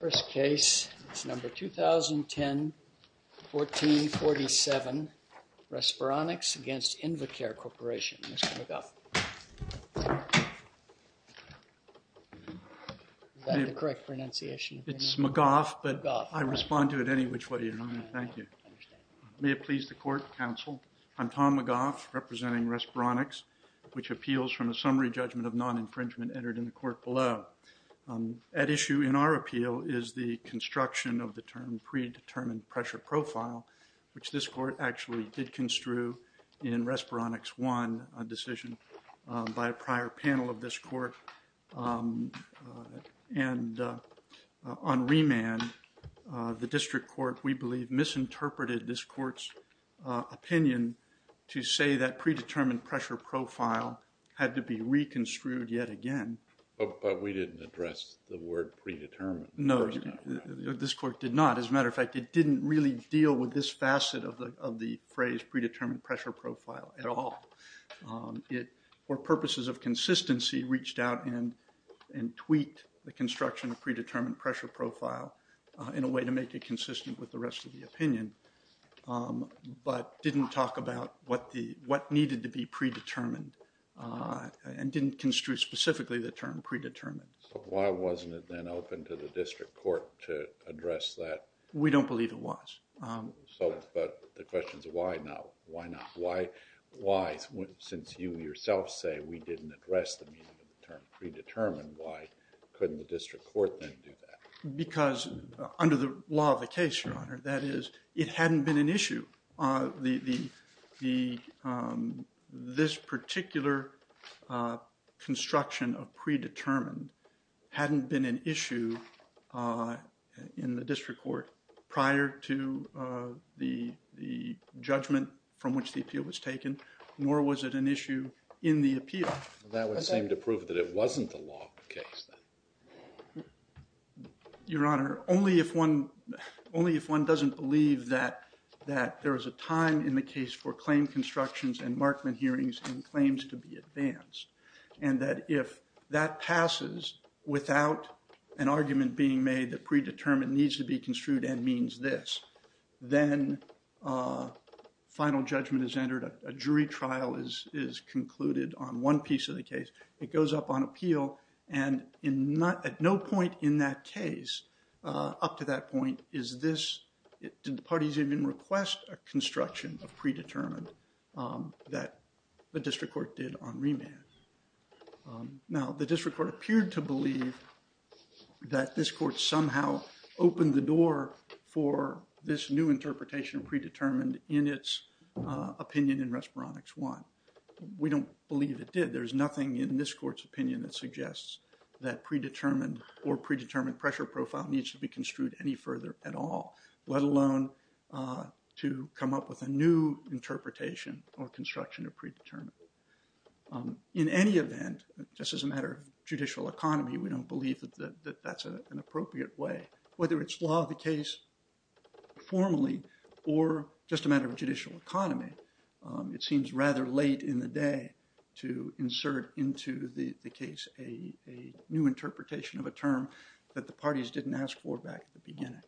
First case, it's number 2010-14-47, Respironics against Invicare Corporation, Mr. McGough. Is that the correct pronunciation? It's McGough, but I respond to it any which way you want, thank you. May it please the court, counsel. I'm Tom McGough, representing Respironics, which appeals from a summary judgment of non-infringement entered in the court below. At issue in our appeal is the construction of the term predetermined pressure profile, which this court actually did construe in Respironics 1, a decision by a prior panel of this court, and on remand, the district court, we believe, misinterpreted this court's opinion to say that predetermined pressure profile had to be reconstrued yet again. But we didn't address the word predetermined. No, this court did not. As a matter of fact, it didn't really deal with this facet of the phrase predetermined pressure profile at all. It, for purposes of consistency, reached out and tweaked the construction of predetermined pressure profile in a way to make it consistent with the rest of the opinion, but didn't talk about what needed to be predetermined, and didn't construe specifically the term predetermined. So why wasn't it then open to the district court to address that? We don't believe it was. So, but the question is why not? Why not? Why, since you yourself say we didn't address the meaning of the term predetermined, why couldn't the district court then do that? Because under the law of the case, Your Honor, that is, it hadn't been an issue. The, this particular construction of predetermined hadn't been an issue in the district court prior to the judgment from which the appeal was taken, nor was it an issue in the appeal. That would seem to prove that it wasn't the law of the case then. Your Honor, only if one, only if one doesn't believe that there is a time in the case for claim constructions and Markman hearings and claims to be advanced, and that if that passes without an argument being made that predetermined needs to be construed and means this, then final judgment is entered, a jury trial is concluded on one piece of the case. It goes up on appeal and in not, at no point in that case, up to that point is this, did the parties even request a construction of predetermined that the district court did on remand. Now, the district court appeared to believe that this court somehow opened the door for this new interpretation of predetermined in its opinion in Respironics 1. We don't believe it did. There's nothing in this court's opinion that suggests that predetermined or predetermined pressure profile needs to be construed any further at all, let alone to come up with a new interpretation or construction of predetermined. In any event, just as a matter of judicial economy, we don't believe that that's an appropriate way. Whether it's law of the case formally or just a matter of judicial economy, it seems rather late in the day to insert into the case a new interpretation of a term that the parties didn't ask for back at the beginning.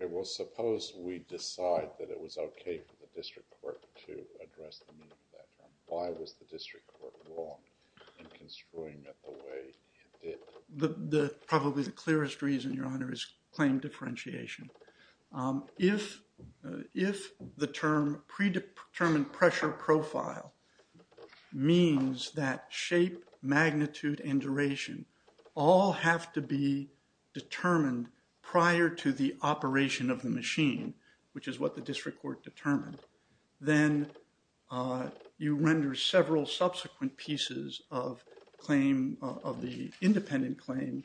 Okay. Well, suppose we decide that it was okay for the district court to address the meaning of that term. Why was the district court wrong in construing it the way it did? The, the, probably the clearest reason, Your Honor, is claim differentiation. If, if the term predetermined pressure profile means that shape, magnitude, and duration all have to be determined prior to the operation of the machine, which is what the district court determined, then you render several subsequent pieces of claim, of the independent claim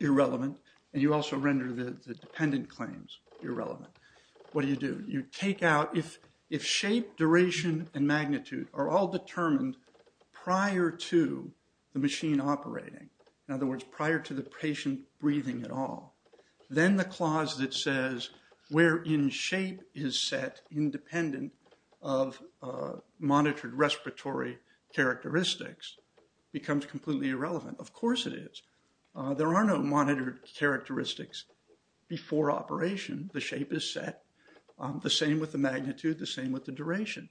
irrelevant, and you also render the dependent claims irrelevant. What do you do? You take out, if, if shape, duration, and magnitude are all determined prior to the machine operating, in other words, prior to the patient breathing at all, then the clause that says where in shape is set independent of monitored respiratory characteristics becomes completely irrelevant. Of course it is. There are no monitored characteristics before operation. The shape is set, the same with the magnitude, the same with the duration.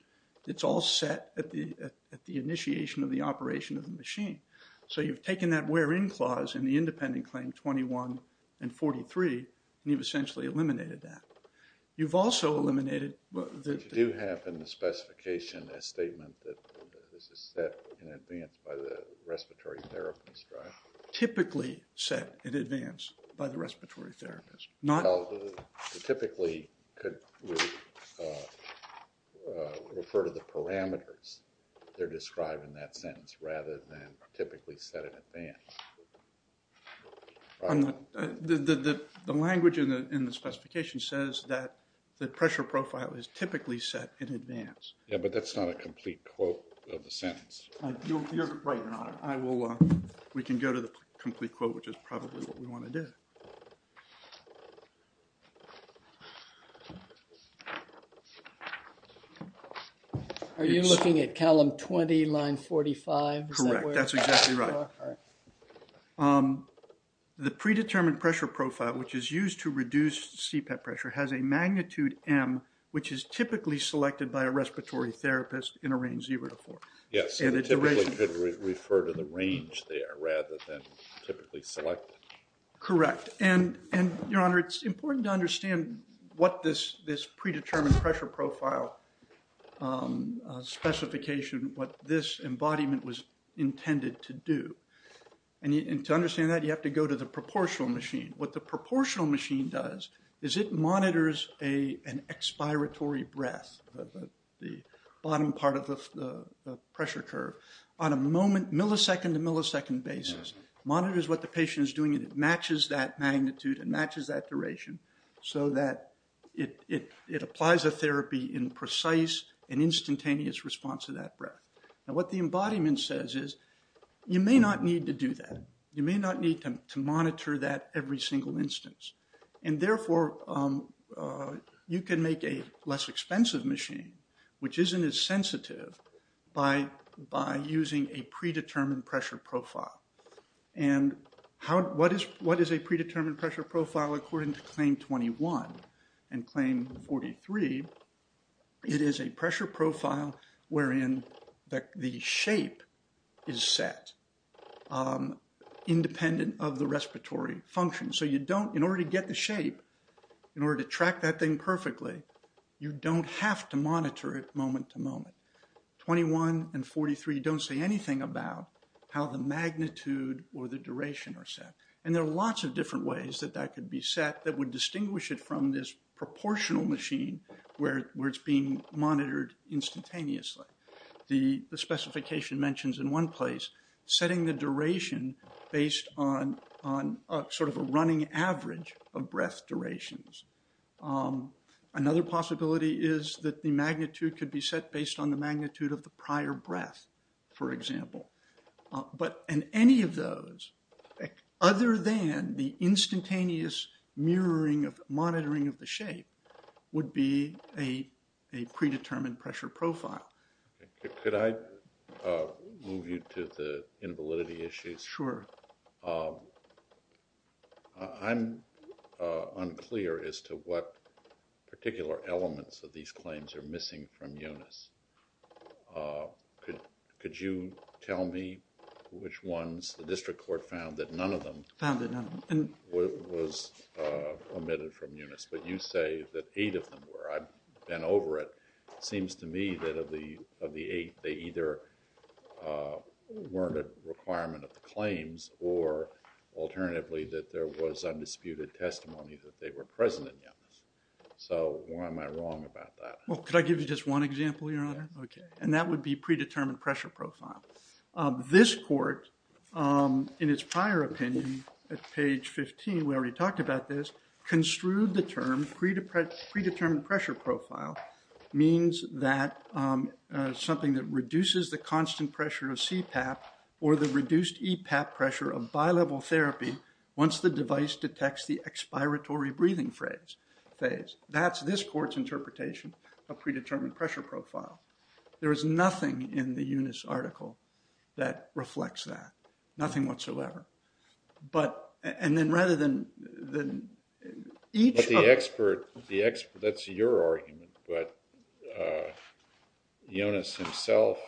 It's all set at the, at the initiation of the operation of the machine. So you've taken that where in clause in the independent claim 21 and 43, and you've essentially eliminated that. You've also eliminated the... You do have in the specification a statement that this is set in advance by the respiratory therapist, right? Typically set in advance by the respiratory therapist, not... Well, typically could refer to the parameters that are described in that sentence rather than typically set in advance. The language in the specification says that the pressure profile is typically set in advance. Yeah, but that's not a complete quote of the sentence. You're right, Your Honor. We can go to the complete quote, which is probably what we want to do. Are you looking at column 20, line 45? Correct, that's exactly right. The predetermined pressure profile, which is used to reduce CPAP pressure, has a magnitude M, which is typically selected by a respiratory therapist in a range zero to four. Yes, and it typically could refer to the range there rather than typically selected. Correct, and Your Honor, it's important to understand what this predetermined pressure profile specification, what this embodiment was intended to do. And to understand that, you have to go to the proportional machine. What the proportional machine does is it monitors an expiratory breath, the bottom part of the pressure curve, on a millisecond to millisecond basis. It monitors what the patient is doing and it matches that magnitude and matches that duration so that it applies a therapy in precise and instantaneous response to that breath. And what the embodiment says is, you may not need to do that. You may not need to monitor that every single instance. And therefore, you can make a less expensive machine, which isn't as sensitive, by using a predetermined pressure profile. And what is a predetermined pressure profile according to Claim 21 and Claim 43? It is a pressure profile wherein the shape is set independent of the respiratory function. So you don't, in order to get the shape, in order to track that thing perfectly, you don't have to monitor it moment to moment. 21 and 43 don't say anything about how the magnitude or the duration are set. And there are lots of different ways that that could be set that would distinguish it from this proportional machine where it's being monitored instantaneously. The specification mentions in one place, setting the duration based on sort of a running average of breath durations. Another possibility is that the magnitude could be set based on the magnitude of the prior breath, for example. But in any of those, other than the instantaneous mirroring of, monitoring of the shape, would be a predetermined pressure profile. Could I move you to the invalidity issues? Sure. I'm unclear as to what particular elements of these claims are missing from UNIS. Could you tell me which ones the district court found that none of them was omitted from UNIS? But you say that eight of them were. I've been over it. It seems to me that of the eight, they either weren't a requirement of the claims or alternatively that there was undisputed testimony that they were present in UNIS. So why am I wrong about that? Well, could I give you just one example, Your Honor? And that would be predetermined pressure profile. This court, in its prior opinion, at page 15, we already talked about this, construed the term predetermined pressure profile means that something that reduces the constant pressure of CPAP or the reduced EPAP pressure of bi-level therapy once the device detects the expiratory breathing phase. That's this court's interpretation of predetermined pressure profile. There is nothing in the UNIS article that reflects that. Nothing whatsoever. But, and then rather than each of... But the expert, that's your argument, but UNIS himself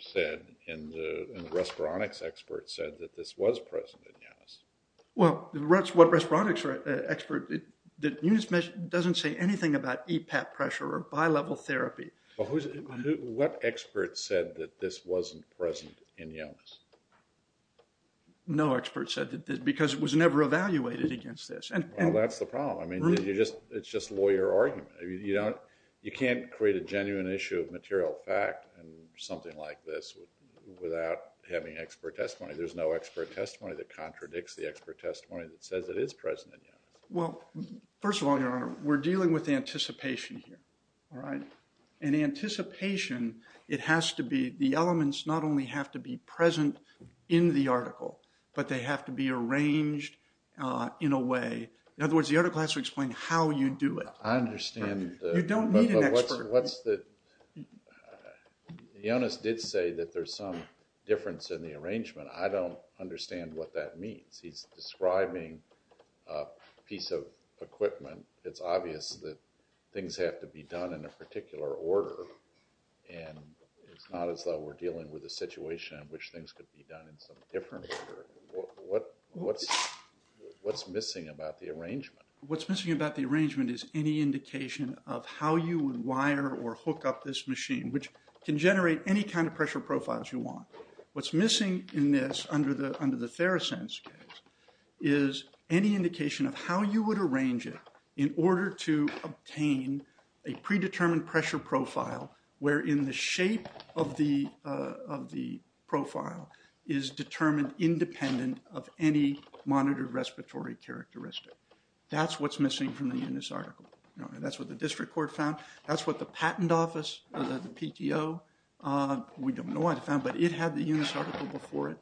said, and the respironics expert said that this was present in UNIS. Well, what respironics expert? UNIS doesn't say anything about EPAP pressure or bi-level therapy. What expert said that this wasn't present in UNIS? No expert said that, because it was never evaluated against this. Well, that's the problem. I mean, it's just lawyer argument. You can't create a genuine issue of material fact in something like this without having expert testimony. There's no expert testimony that contradicts the expert testimony that says it is present in UNIS. Well, first of all, Your Honor, we're dealing with anticipation here, all right? In anticipation, it has to be, the elements not only have to be present in the article, but they have to be arranged in a way. In other words, the article has to explain how you do it. I understand. You don't need an expert. UNIS did say that there's some difference in the arrangement. I don't understand what that means. He's describing a piece of equipment. It's obvious that things have to be done in a particular order, and it's not as though we're dealing with a situation in which things could be done in some different order. What's missing about the arrangement? What's missing about the arrangement is any indication of how you would wire or hook up this machine, which can generate any kind of pressure profiles you want. What's missing in this, under the Theracense case, is any indication of how you would arrange it in order to obtain a predetermined pressure profile wherein the shape of the profile is determined independent of any monitored respiratory characteristic. That's what's missing from the UNIS article. That's what the district court found. That's what the patent office, the PTO, we don't know what it found, but it had the UNIS article before it.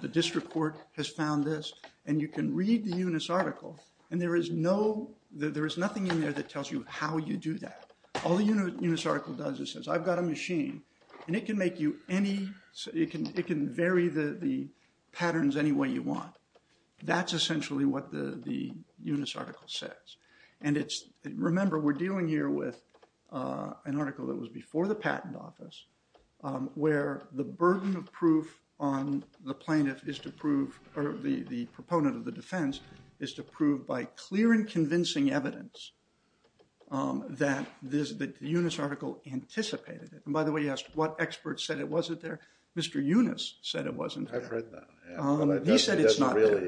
The district court has found this, and you can read the UNIS article, and there is nothing in there that tells you how you do that. All the UNIS article does is says, I've got a machine, and it can vary the patterns any way you want. That's essentially what the UNIS article says. Remember, we're dealing here with an article that was before the patent office, where the burden of proof on the plaintiff is to prove, or the proponent of the defense, is to prove by clear and convincing evidence that the UNIS article anticipated it. And by the way, you asked what expert said it wasn't there? Mr. UNIS said it wasn't there. I've read that. He said it's not there.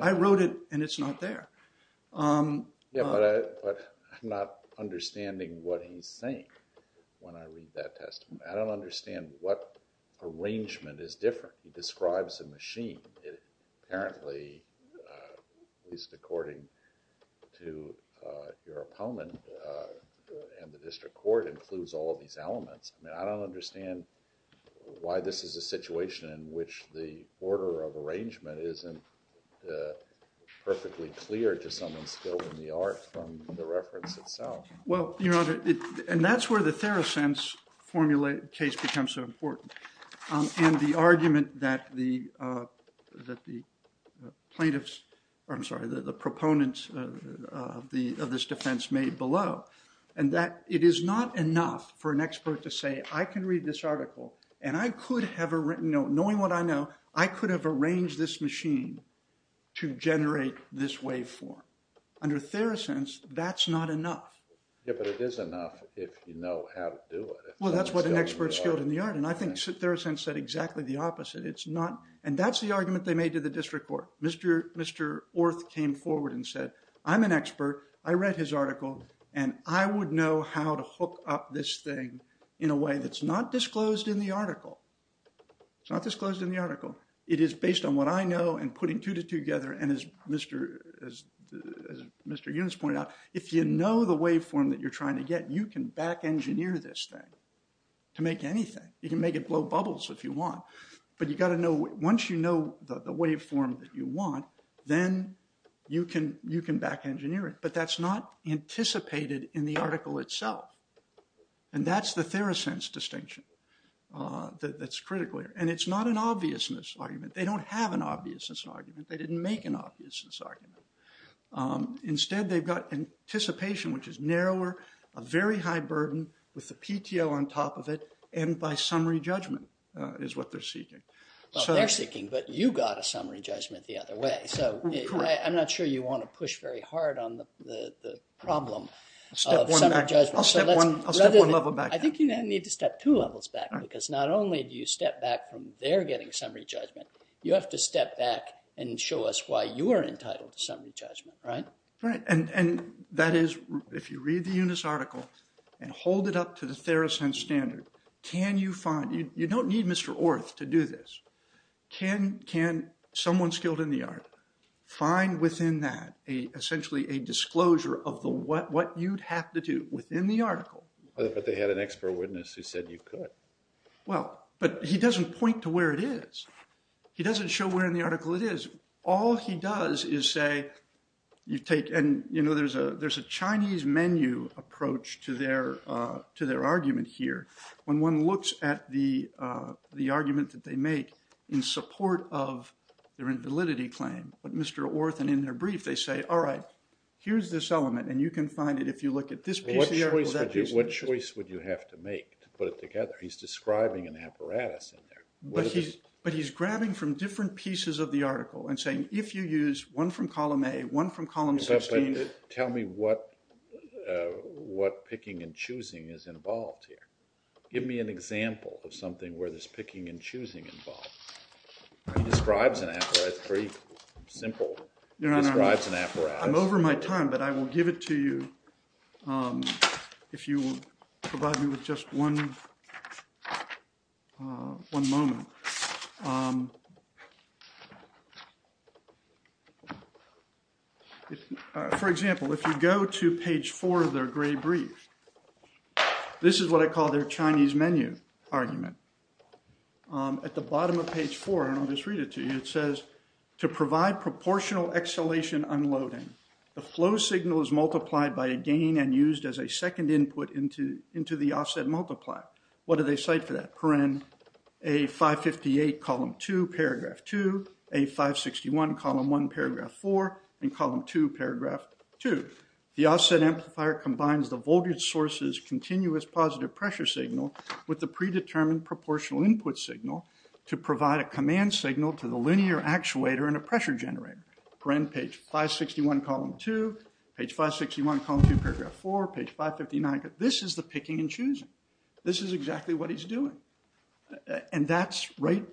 I wrote it, and it's not there. Yeah, but I'm not understanding what he's saying when I read that testimony. I don't understand what arrangement is different. He describes a machine. Apparently, at least according to your opponent, and the district court includes all of these elements. I mean, I don't understand why this is a situation in which the order of arrangement isn't perfectly clear to someone skilled in the art from the reference itself. Well, Your Honor, and that's where the Therosense case becomes so important, and the argument that the plaintiffs, I'm sorry, the proponents of this defense made below, and that it is not enough for an expert to say, I can read this article, and knowing what I know, I could have arranged this machine to generate this waveform. Under Therosense, that's not enough. Yeah, but it is enough if you know how to do it. Well, that's what an expert skilled in the art, and I think Therosense said exactly the opposite. It's not, and that's the argument they made to the district court. Mr. Orth came forward and said, I'm an expert, I read his article, in a way that's not disclosed in the article. It's not disclosed in the article. It is based on what I know, and putting two together, and as Mr. Yunus pointed out, if you know the waveform that you're trying to get, you can back-engineer this thing to make anything. You can make it blow bubbles if you want, but you gotta know, once you know the waveform that you want, then you can back-engineer it, but that's not anticipated in the article itself, and that's the Therosense distinction. That's critical, and it's not an obviousness argument. They don't have an obviousness argument. They didn't make an obviousness argument. Instead, they've got anticipation, which is narrower, a very high burden, with the PTO on top of it, and by summary judgment is what they're seeking. Well, they're seeking, but you got a summary judgment the other way, so I'm not sure you want to push very hard on the problem of summary judgment. I'll step one level back. I think you need to step two levels back, because not only do you step back from their getting summary judgment, you have to step back and show us why you're entitled to summary judgment, right? Right, and that is, if you read the UNIS article and hold it up to the Therosense standard, can you find, you don't need Mr. Orth to do this, can someone skilled in the art find within that essentially a disclosure of what you'd have to do within the article? But they had an expert witness who said you could. Well, but he doesn't point to where it is. He doesn't show where in the article it is. All he does is say, you take, and you know, there's a Chinese menu approach to their argument here. When one looks at the argument that they make in support of their invalidity claim, but Mr. Orth and in their brief, they say, all right, here's this element and you can find it if you look at this piece What choice would you have to make to put it together? He's describing an apparatus in there. But he's grabbing from different pieces of the article and saying, if you use one from column A, one from column 16. Tell me what picking and choosing is involved here. Give me an example of something where there's picking and choosing involved. He describes an apparatus, it's very simple. I'm over my time, but I will give it to you if you will provide me with just one moment. For example, if you go to page 4 of their gray brief, this is what I call their Chinese menu argument. At the bottom of page 4, and I'll just read it to you, it says, to provide proportional exhalation and unloading. The flow signal is multiplied by a gain and used as a second input into the offset multiplier. What do they cite for that? A558, column 2, paragraph 2. A561, column 1, paragraph 4. And column 2, paragraph 2. The offset amplifier combines the voltage source's continuous positive pressure signal with the predetermined proportional input signal to provide a command signal to the linear actuator and a pressure generator. Page 561, column 2. Page 561, column 2, paragraph 4. Page 559. This is the picking and choosing. This is exactly what he's doing. And that's right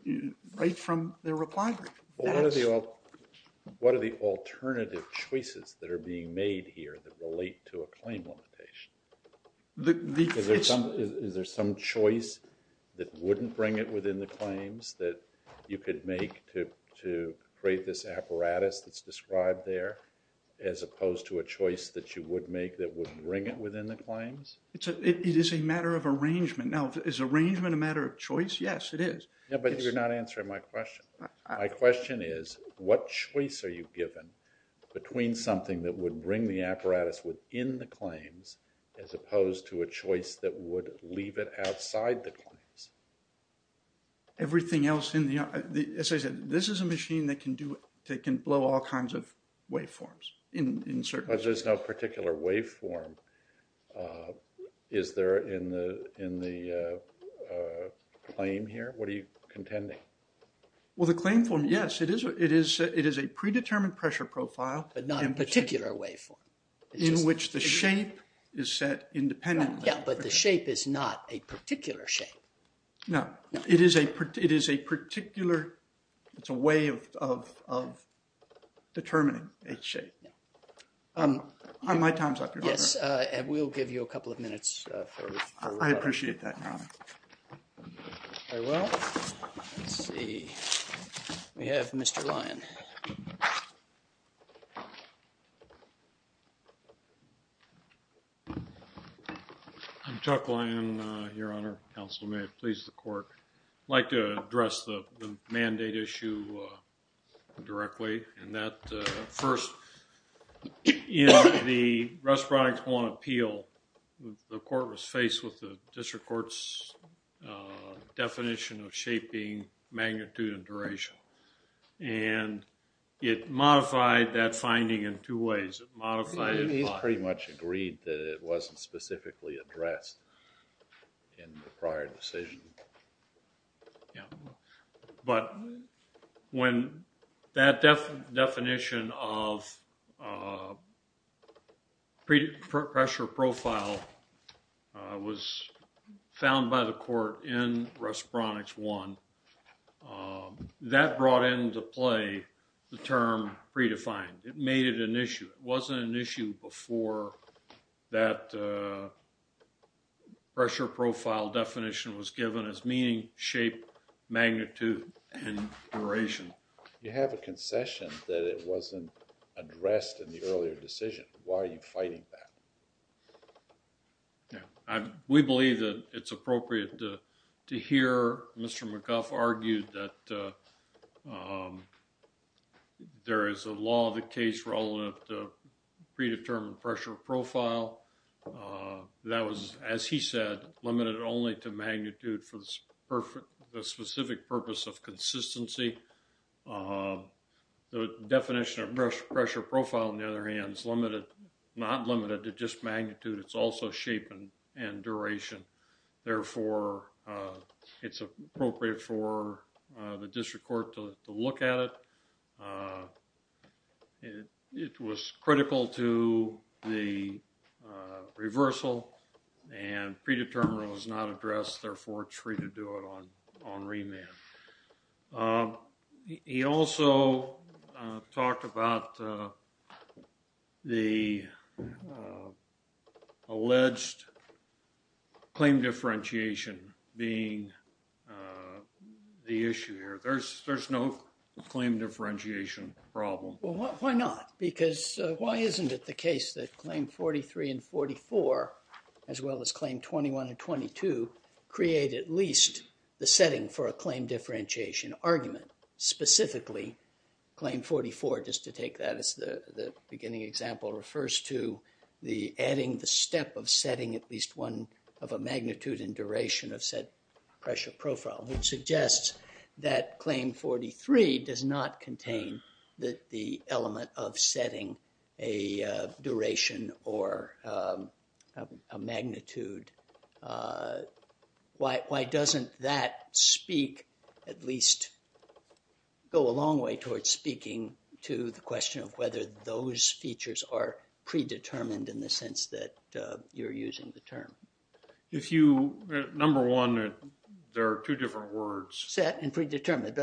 from their reply brief. What are the alternative choices that are being made here that relate to a claim limitation? Is there some choice that wouldn't bring it within the claims that you could make to create this apparatus that's described there as opposed to a choice that you would make that would bring it within the claims? It is a matter of arrangement. Now, is arrangement a matter of choice? Yes, it is. But you're not answering my question. My question is, what choice are you given between something that would bring the apparatus within the claims as opposed to a choice that would leave it outside the claims? Everything else in the... As I said, this is a machine that can blow all kinds of waveforms. But there's no particular waveform. Is there in the claim here? What are you contending? Well, the claim form, yes. It is a predetermined pressure profile but not a particular waveform. In which the shape is set independently. Yeah, but the shape is not a particular shape. No. It is a particular... It's a way of determining a shape. My time's up, Your Honor. We'll give you a couple of minutes. I appreciate that, Your Honor. Very well. Let's see. We have Mr. Lyon. I'm Chuck Lyon, Your Honor. Counselor, may it please the court. I'd like to address the mandate issue directly. First, in the Respondent 1 appeal the court was faced with the district court's definition of shape being magnitude and duration. And in that definition it modified that finding in two ways. It modified... He pretty much agreed that it wasn't specifically addressed in the prior decision. Yeah. But when that definition of pressure profile was found by the court in Respondent 1 that brought into play the term predefined. It made it an issue. It wasn't an issue before that pressure profile definition was given as meaning, shape, magnitude and duration. You have a concession that it wasn't addressed in the earlier decision. Why are you fighting that? Yeah. We believe that it's appropriate to hear Mr. McGuff argue that there is a law of the case relevant to predetermined pressure profile. That was, as he said, limited only to magnitude for the specific purpose of consistency. The definition of pressure profile, on the other hand, is not limited to just magnitude. It's also shape and duration. Therefore it's appropriate for the district court to look at it. It was critical to the reversal and predetermined was not addressed. Therefore, it's free to do it on remand. He also talked about the alleged claim differentiation being the issue here. There's no claim differentiation problem. Why not? Why isn't it the case that claim 43 and 44 as well as claim 21 and 22 create at least the setting for a claim differentiation argument? Specifically, claim 44 just to take that as the beginning example refers to adding the step of setting at least one of a magnitude and duration of said pressure profile, which suggests that claim 43 does not contain the element of setting a duration or a magnitude. Why doesn't that speak at least go a long way towards speaking to the question of whether those features are predetermined in the sense that you're using the term? Number one, there are two different words. Set and predetermined.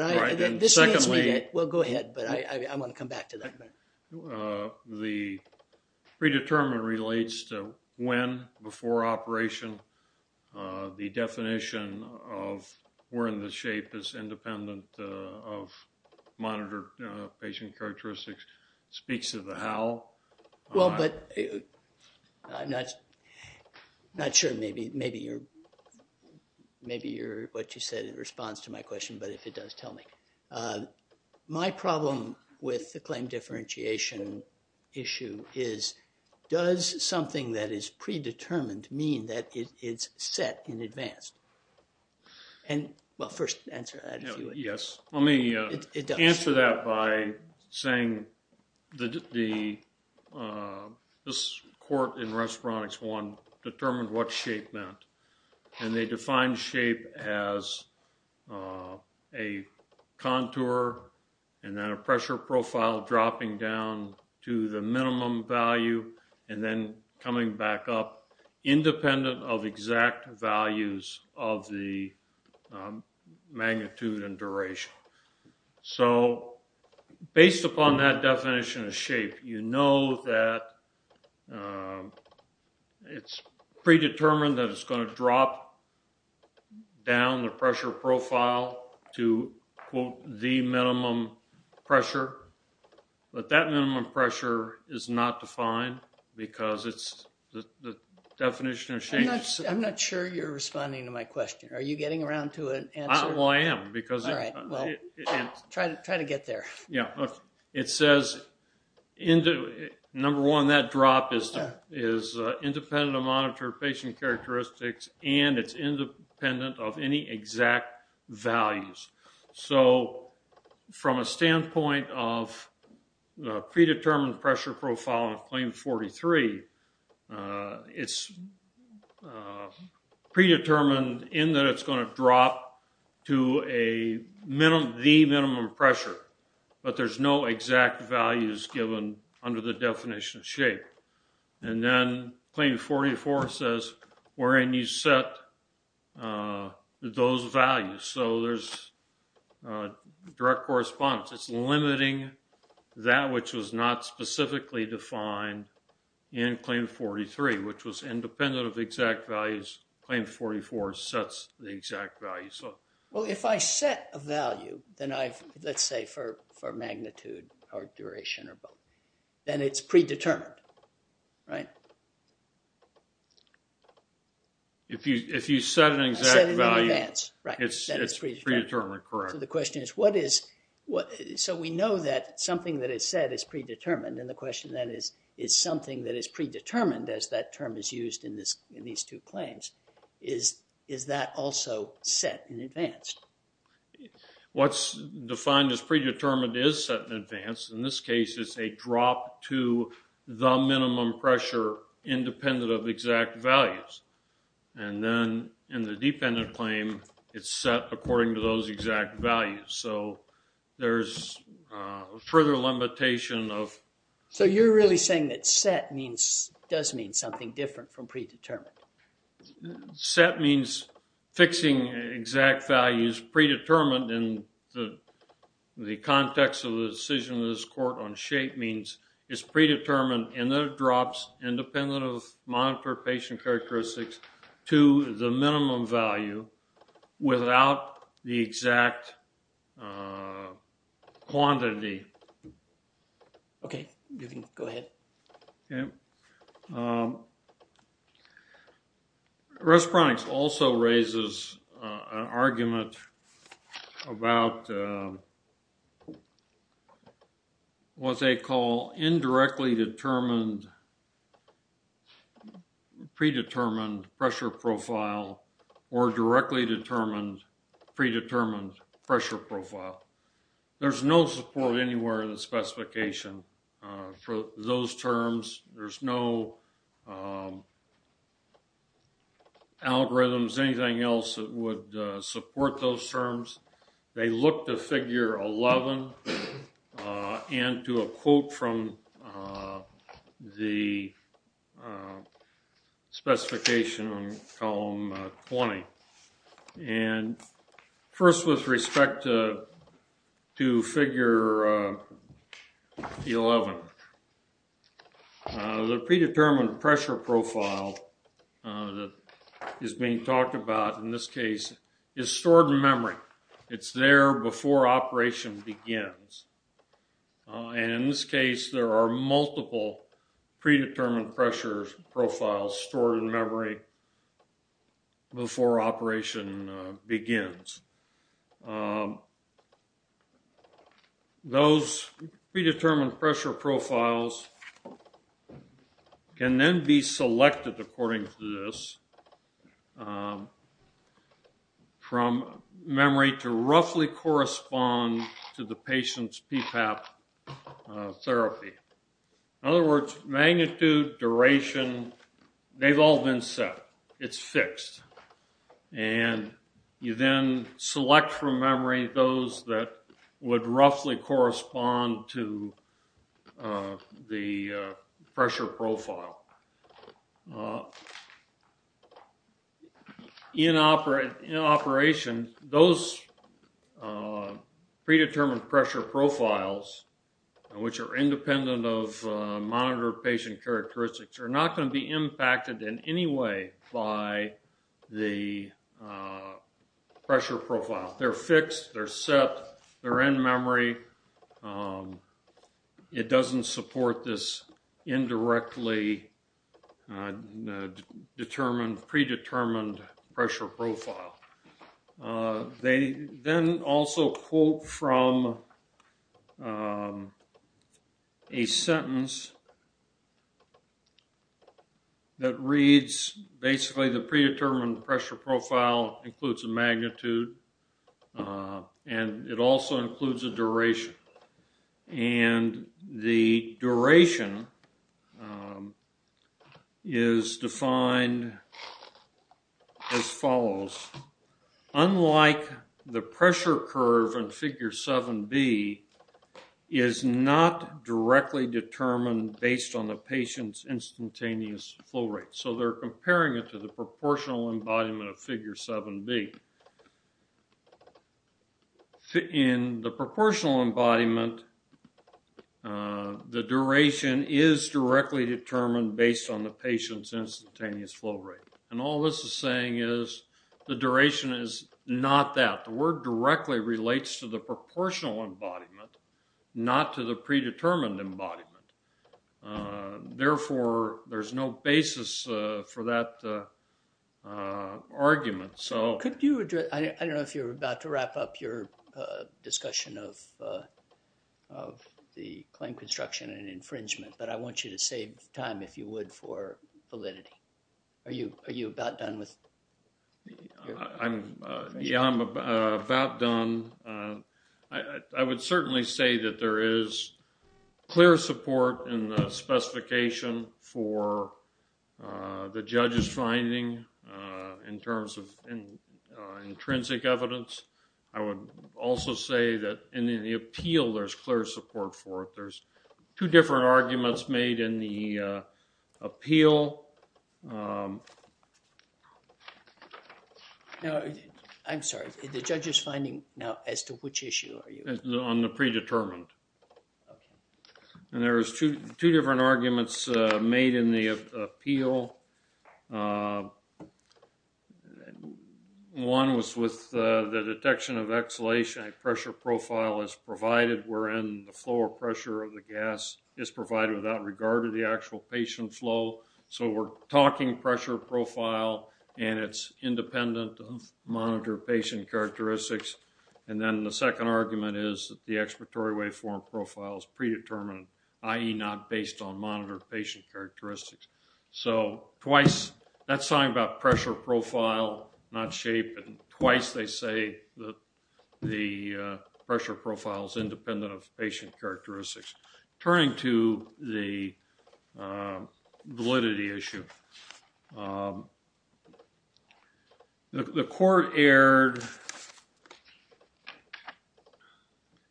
Secondly... I want to come back to that. The predetermined relates to when before operation the definition of where in the shape is independent of monitored patient characteristics speaks to the how. Well, but I'm not sure maybe you're what you said in response to my question, but if it does, tell me. My problem with the claim differentiation issue is does something that is predetermined mean that it's set in advance? Well, first answer that if you would. Yes. Let me answer that by saying the this court in Respironics I determined what shape meant and they defined shape as a contour and then a pressure profile dropping down to the minimum value and then coming back up independent of exact values of the So based upon that definition of shape you know that it's predetermined that it's going to drop down the pressure profile to quote the minimum pressure but that minimum pressure is not defined because it's the definition of shape I'm not sure you're responding to my question. Are you getting around to an answer? I am. Try to get there. It says number one that drop is independent of monitor patient characteristics and it's independent of any exact values so from a standpoint of predetermined pressure profile of claim 43 it's predetermined in that it's going to drop to the minimum pressure but there's no exact values given under the definition of shape and then claim 44 says wherein you set those values so there's direct correspondence it's limiting that which was not specifically defined in claim 43 which was independent of exact values, claim 44 sets the exact values. If I set a value let's say for magnitude or duration then it's predetermined right? If you set an exact value it's predetermined. The question is so we know that something that is said is predetermined and the question then is is something that is predetermined as that term is used in these two claims, is that also set in advance? What's defined as predetermined is set in advance. In this case it's a drop to the minimum pressure independent of exact values and then in the dependent claim it's set according to those exact values so there's further limitation of... So you're really saying that set does mean something different from predetermined. Set means fixing exact values predetermined in the context of the decision of this court on shape means it's predetermined and then it drops independent of monitor patient characteristics to the minimum value without the exact quantity. Okay. Go ahead. Respironics also raises an argument about what they call indirectly determined predetermined pressure profile or directly determined predetermined pressure profile. There's no support anywhere in the specification for those terms. There's no algorithms, anything else that would support those terms. They look to figure 11 and to a quote from the specification on column 20. First with respect to figure 11 the predetermined pressure profile is being talked about in this case is stored in memory. It's there before operation begins. And in this case there are multiple predetermined pressure profiles stored in memory before operation begins. Those predetermined pressure profiles can then be selected according to this from memory to roughly correspond to the patient's PPAP therapy. In other words, magnitude, duration, they've all been set. It's fixed. And you then select from memory those that would roughly correspond to the pressure profile. In operation those predetermined pressure profiles, which are independent of monitored patient characteristics, are not going to be impacted in any way by the pressure profile. They're fixed. They're set. They're in memory. It doesn't support this indirectly determined, predetermined pressure profile. They then also quote from a sentence that reads basically the predetermined pressure profile includes a magnitude and it also includes a duration. And the duration is defined as follows. Unlike the pressure curve in figure 7b, is not directly determined based on the patient's instantaneous flow rate. So they're comparing it to the proportional embodiment of figure 7b. In the proportional embodiment, the duration is directly determined based on the patient's instantaneous flow rate. And all this is saying is the duration is not that. The word directly relates to the proportional embodiment, not to the predetermined embodiment. Therefore, there's no basis for that argument. Could you address, I don't know if you're about to wrap up your discussion of the claim construction and infringement, but I want you to save time if you would for validity. Are you about done with infringement? Yeah, I'm about done. I would certainly say that there is clear support in the specification for the judge's finding in terms of intrinsic evidence. I would also say that in the appeal there's clear support for it. There's two different arguments made in the appeal. Now, I'm sorry, the judge's finding, now, as to which issue are you? On the predetermined. Okay. And there's two different arguments made in the appeal. One was with the detection of exhalation at pressure profile as provided wherein the flow or pressure of the gas is provided without regard to the actual patient flow. So we're talking pressure profile and it's independent of monitor patient characteristics. And then the second argument is that the expiratory waveform profile is predetermined, i.e. not based on monitor patient characteristics. So twice, that's something about pressure profile, not shape, and twice they say that the pressure profile is independent of patient characteristics. Turning to the validity issue. The court erred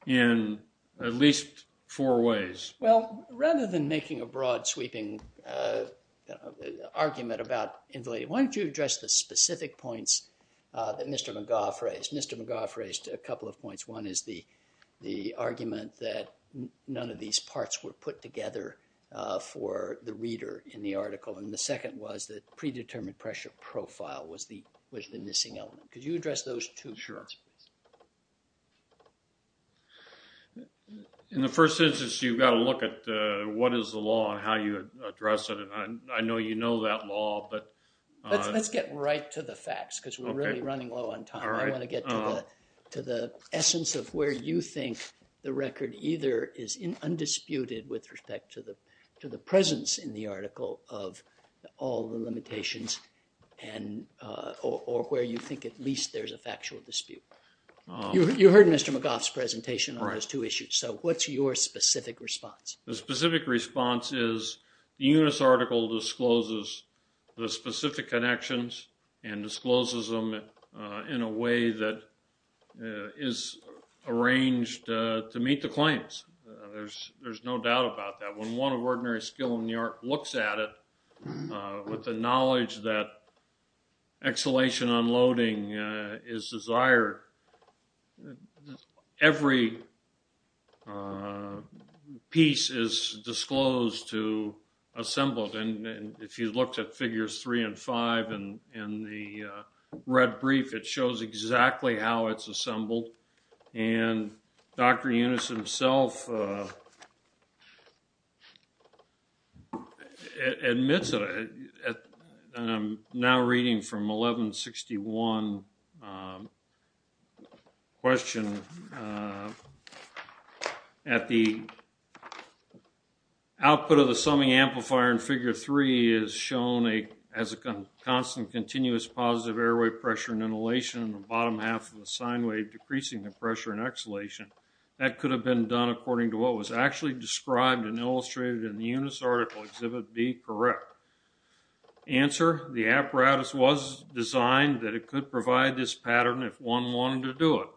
in at least four ways. Well, rather than making a broad sweeping argument about invalidity, why don't you address the specific points that Mr. McGough raised. Mr. McGough raised a couple of points. One is the argument that none of these parts were put together for the reader in the article, and the second was that predetermined pressure profile was the missing element. Could you address those two? Sure. In the first instance, you've got to look at what is the law and how you address it, and I know you know that law, but... Let's get right to the facts, because we're really running low on time. I want to get to the essence of where you think the record either is undisputed with respect to the presence in the article of all the limitations or where you think at least there's a factual dispute. You heard Mr. McGough's presentation on those two issues, so what's your specific response? The specific response is the Eunice article discloses the specific connections and discloses them in a way that is arranged to meet the claims. There's no doubt about that. When one of ordinary skill in the art looks at it with the knowledge that exhalation unloading is desired, every piece is disclosed to assembled, and if you looked at figures three and five in the red brief, it shows exactly how it's assembled. Dr. Eunice himself admits and I'm now reading from 1161 question at the output of the summing amplifier in figure three is shown as a constant continuous positive airway pressure and inhalation in the bottom half of the sine wave decreasing the pressure in exhalation. That could have been done according to what was actually described and illustrated in the Eunice article exhibit B correct. Answer the apparatus was designed that it could provide this pattern if one wanted to do it.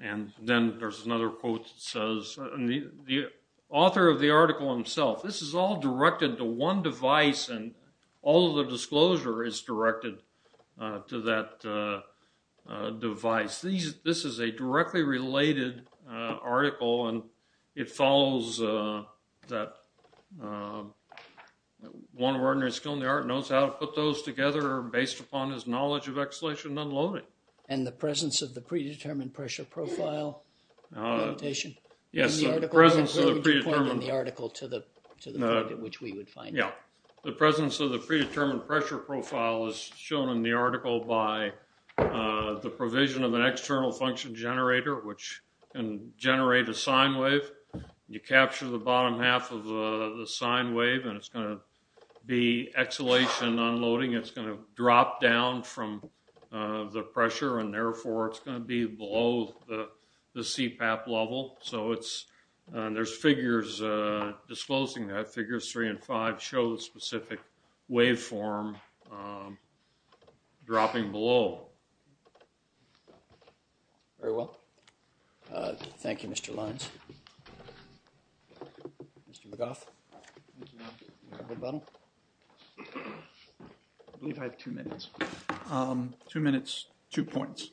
And then there's another quote that says the author of the article himself, this is all directed to one device and all of the disclosure is directed to that device. This is a directly related article and it follows that one ordinary skill in the art knows how to put those together based upon his knowledge of exhalation unloading. And the presence of the predetermined pressure profile notation? Yes. The article to which we would find the presence of the predetermined pressure profile is shown in the article by the provision of an external function generator which can generate a sine wave. You capture the bottom half of the sine wave and it's going to be exhalation unloading. It's going to drop down from the pressure and therefore it's going to be below the CPAP level. So it's there's figures disclosing that. Figures 3 and 5 show the specific waveform dropping below. Very well. Thank you Mr. Lyons. Mr. McGough. Thank you. I believe I have two minutes. Two minutes, two points.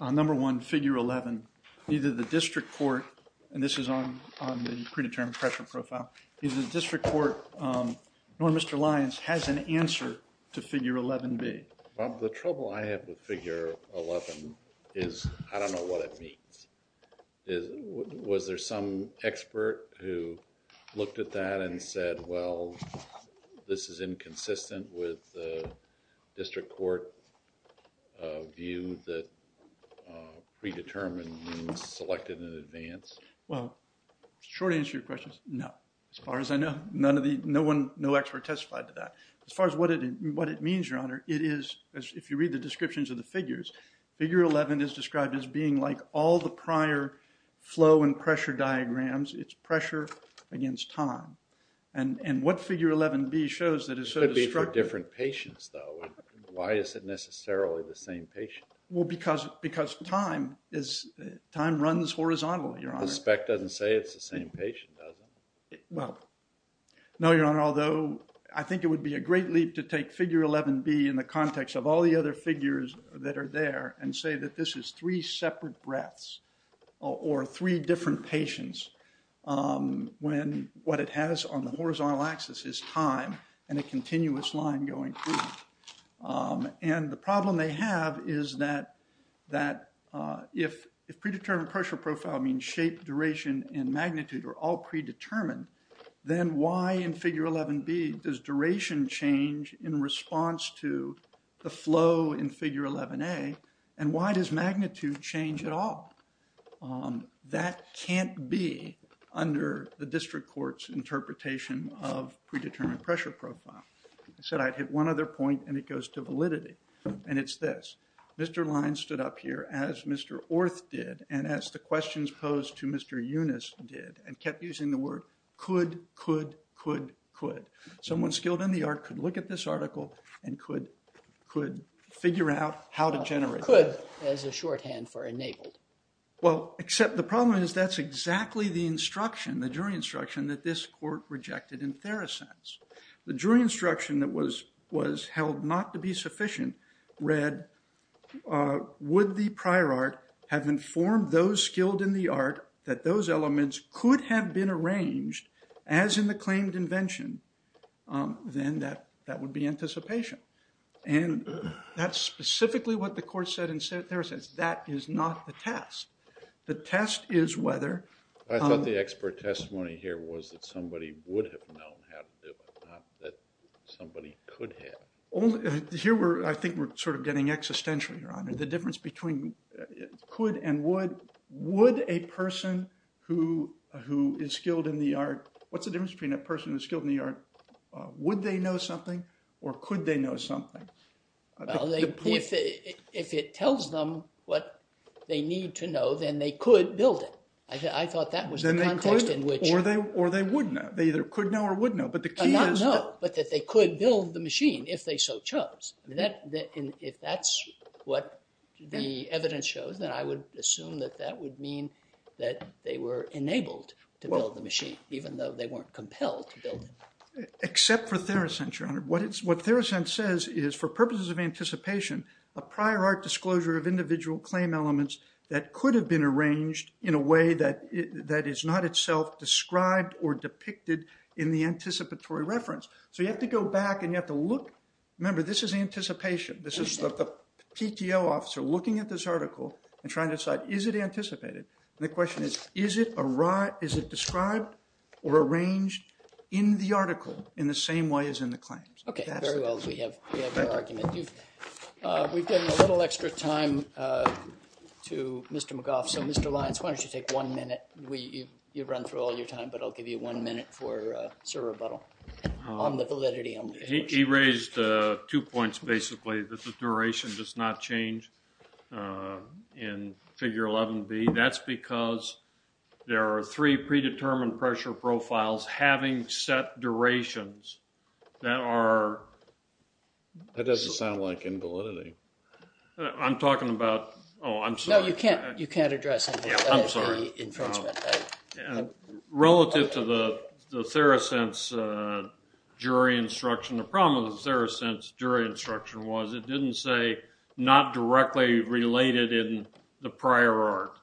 Number one, figure 11. Neither the district court and this is on the predetermined pressure profile, neither the district court nor Mr. Lyons has an answer to figure 11b. Bob, the trouble I have with figure 11 is I don't know what it means. Was there some expert who looked at that and said well this is inconsistent with the district court view that predetermined means selected in advance? Well, short answer to your question, no. As far as I know, none of the, no one, no expert testified to that. As far as what it means your honor, it is, if you read the descriptions of the figures, figure 11 is described as being like all the prior flow and pressure diagrams. It's pressure against time. And what figure 11b shows that is so destructive. It could be for different patients though. Why is it necessarily the same patient? Well, because time is, time runs horizontal your honor. The spec doesn't say it's the same patient does it? Well, no your honor, although I think it would be a great leap to take figure 11b in the context of all the other figures that are there and say that this is three separate breaths or three different patients when what it has on the horizontal axis is time and a continuous line going through. And the problem they have is that if predetermined pressure profile means shape, duration and magnitude are all predetermined then why in figure 11b does duration change in response to the flow in figure 11a and why does magnitude change at all? That can't be under the district court's interpretation of predetermined pressure profile. I said I'd hit one other point and it goes to validity and it's this Mr. Lyons stood up here as Mr. Orth did and as the questions posed to Mr. Eunice did and kept using the word could, could, could, could. Someone skilled in the art could look at this article and could figure out how to generate that. Could as a shorthand for enabled. Well, except the problem is that's exactly the instruction, the jury instruction that this court rejected in Theracense. The jury instruction that was held not to be sufficient read would the prior art have informed those skilled in the art that those elements could have been arranged as in the claimed invention then that would be anticipation. And that's specifically what the court said in Theracense. That is not the test. The test is whether I thought the expert testimony here was that somebody would have known how to do it, not that somebody could have. Here I think we're sort of getting existential your honor. The difference between could and would, would a person who is skilled in the art, what's the difference between a person who is skilled in the art would they know something or could they know something? If it tells them what they need to know then they could build it. I thought that was the context in which or they would know. They either could know or would know but the key is that they could build the machine if they so chose. If that's what the evidence shows then I would assume that that would mean that they were enabled to build the machine even though they weren't compelled to build it. Except for Theracense your honor. What Theracense says is for purposes of anticipation a prior art disclosure of individual claim elements that could have been arranged in a way that is not itself described or depicted in the anticipatory reference. So you have to go back and you have to look, remember this is anticipation, this is the PTO officer looking at this article and trying to decide is it anticipated and the question is, is it described or arranged in the article in the same way as in the claims? Very well, we have your argument. We've given a little extra time to Mr. McGough. So Mr. Lyons, why don't you take one minute. You've run through all your time but I'll give you one minute for sir rebuttal on the validity. He raised two points basically that the duration does not change in figure 11B. That's because there are three predetermined pressure profiles having set durations that are That doesn't sound like invalidity. I'm talking about Oh, I'm sorry. No, you can't address that. I'm sorry. Relative to the Theracense jury instruction, the problem with the Theracense jury instruction was it didn't say not directly related in the prior art.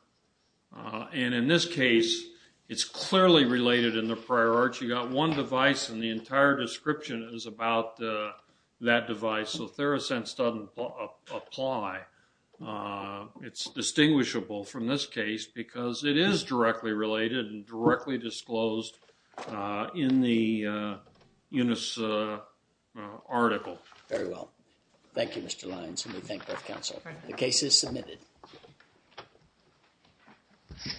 And in this case, it's clearly related in the prior art. You've got one device and the entire description is about that device. So Theracense doesn't apply. It's distinguishable from this case because it is directly related and directly disclosed in the article. Very well. Thank you Mr. Lyons and we thank both counsel. The case is submitted.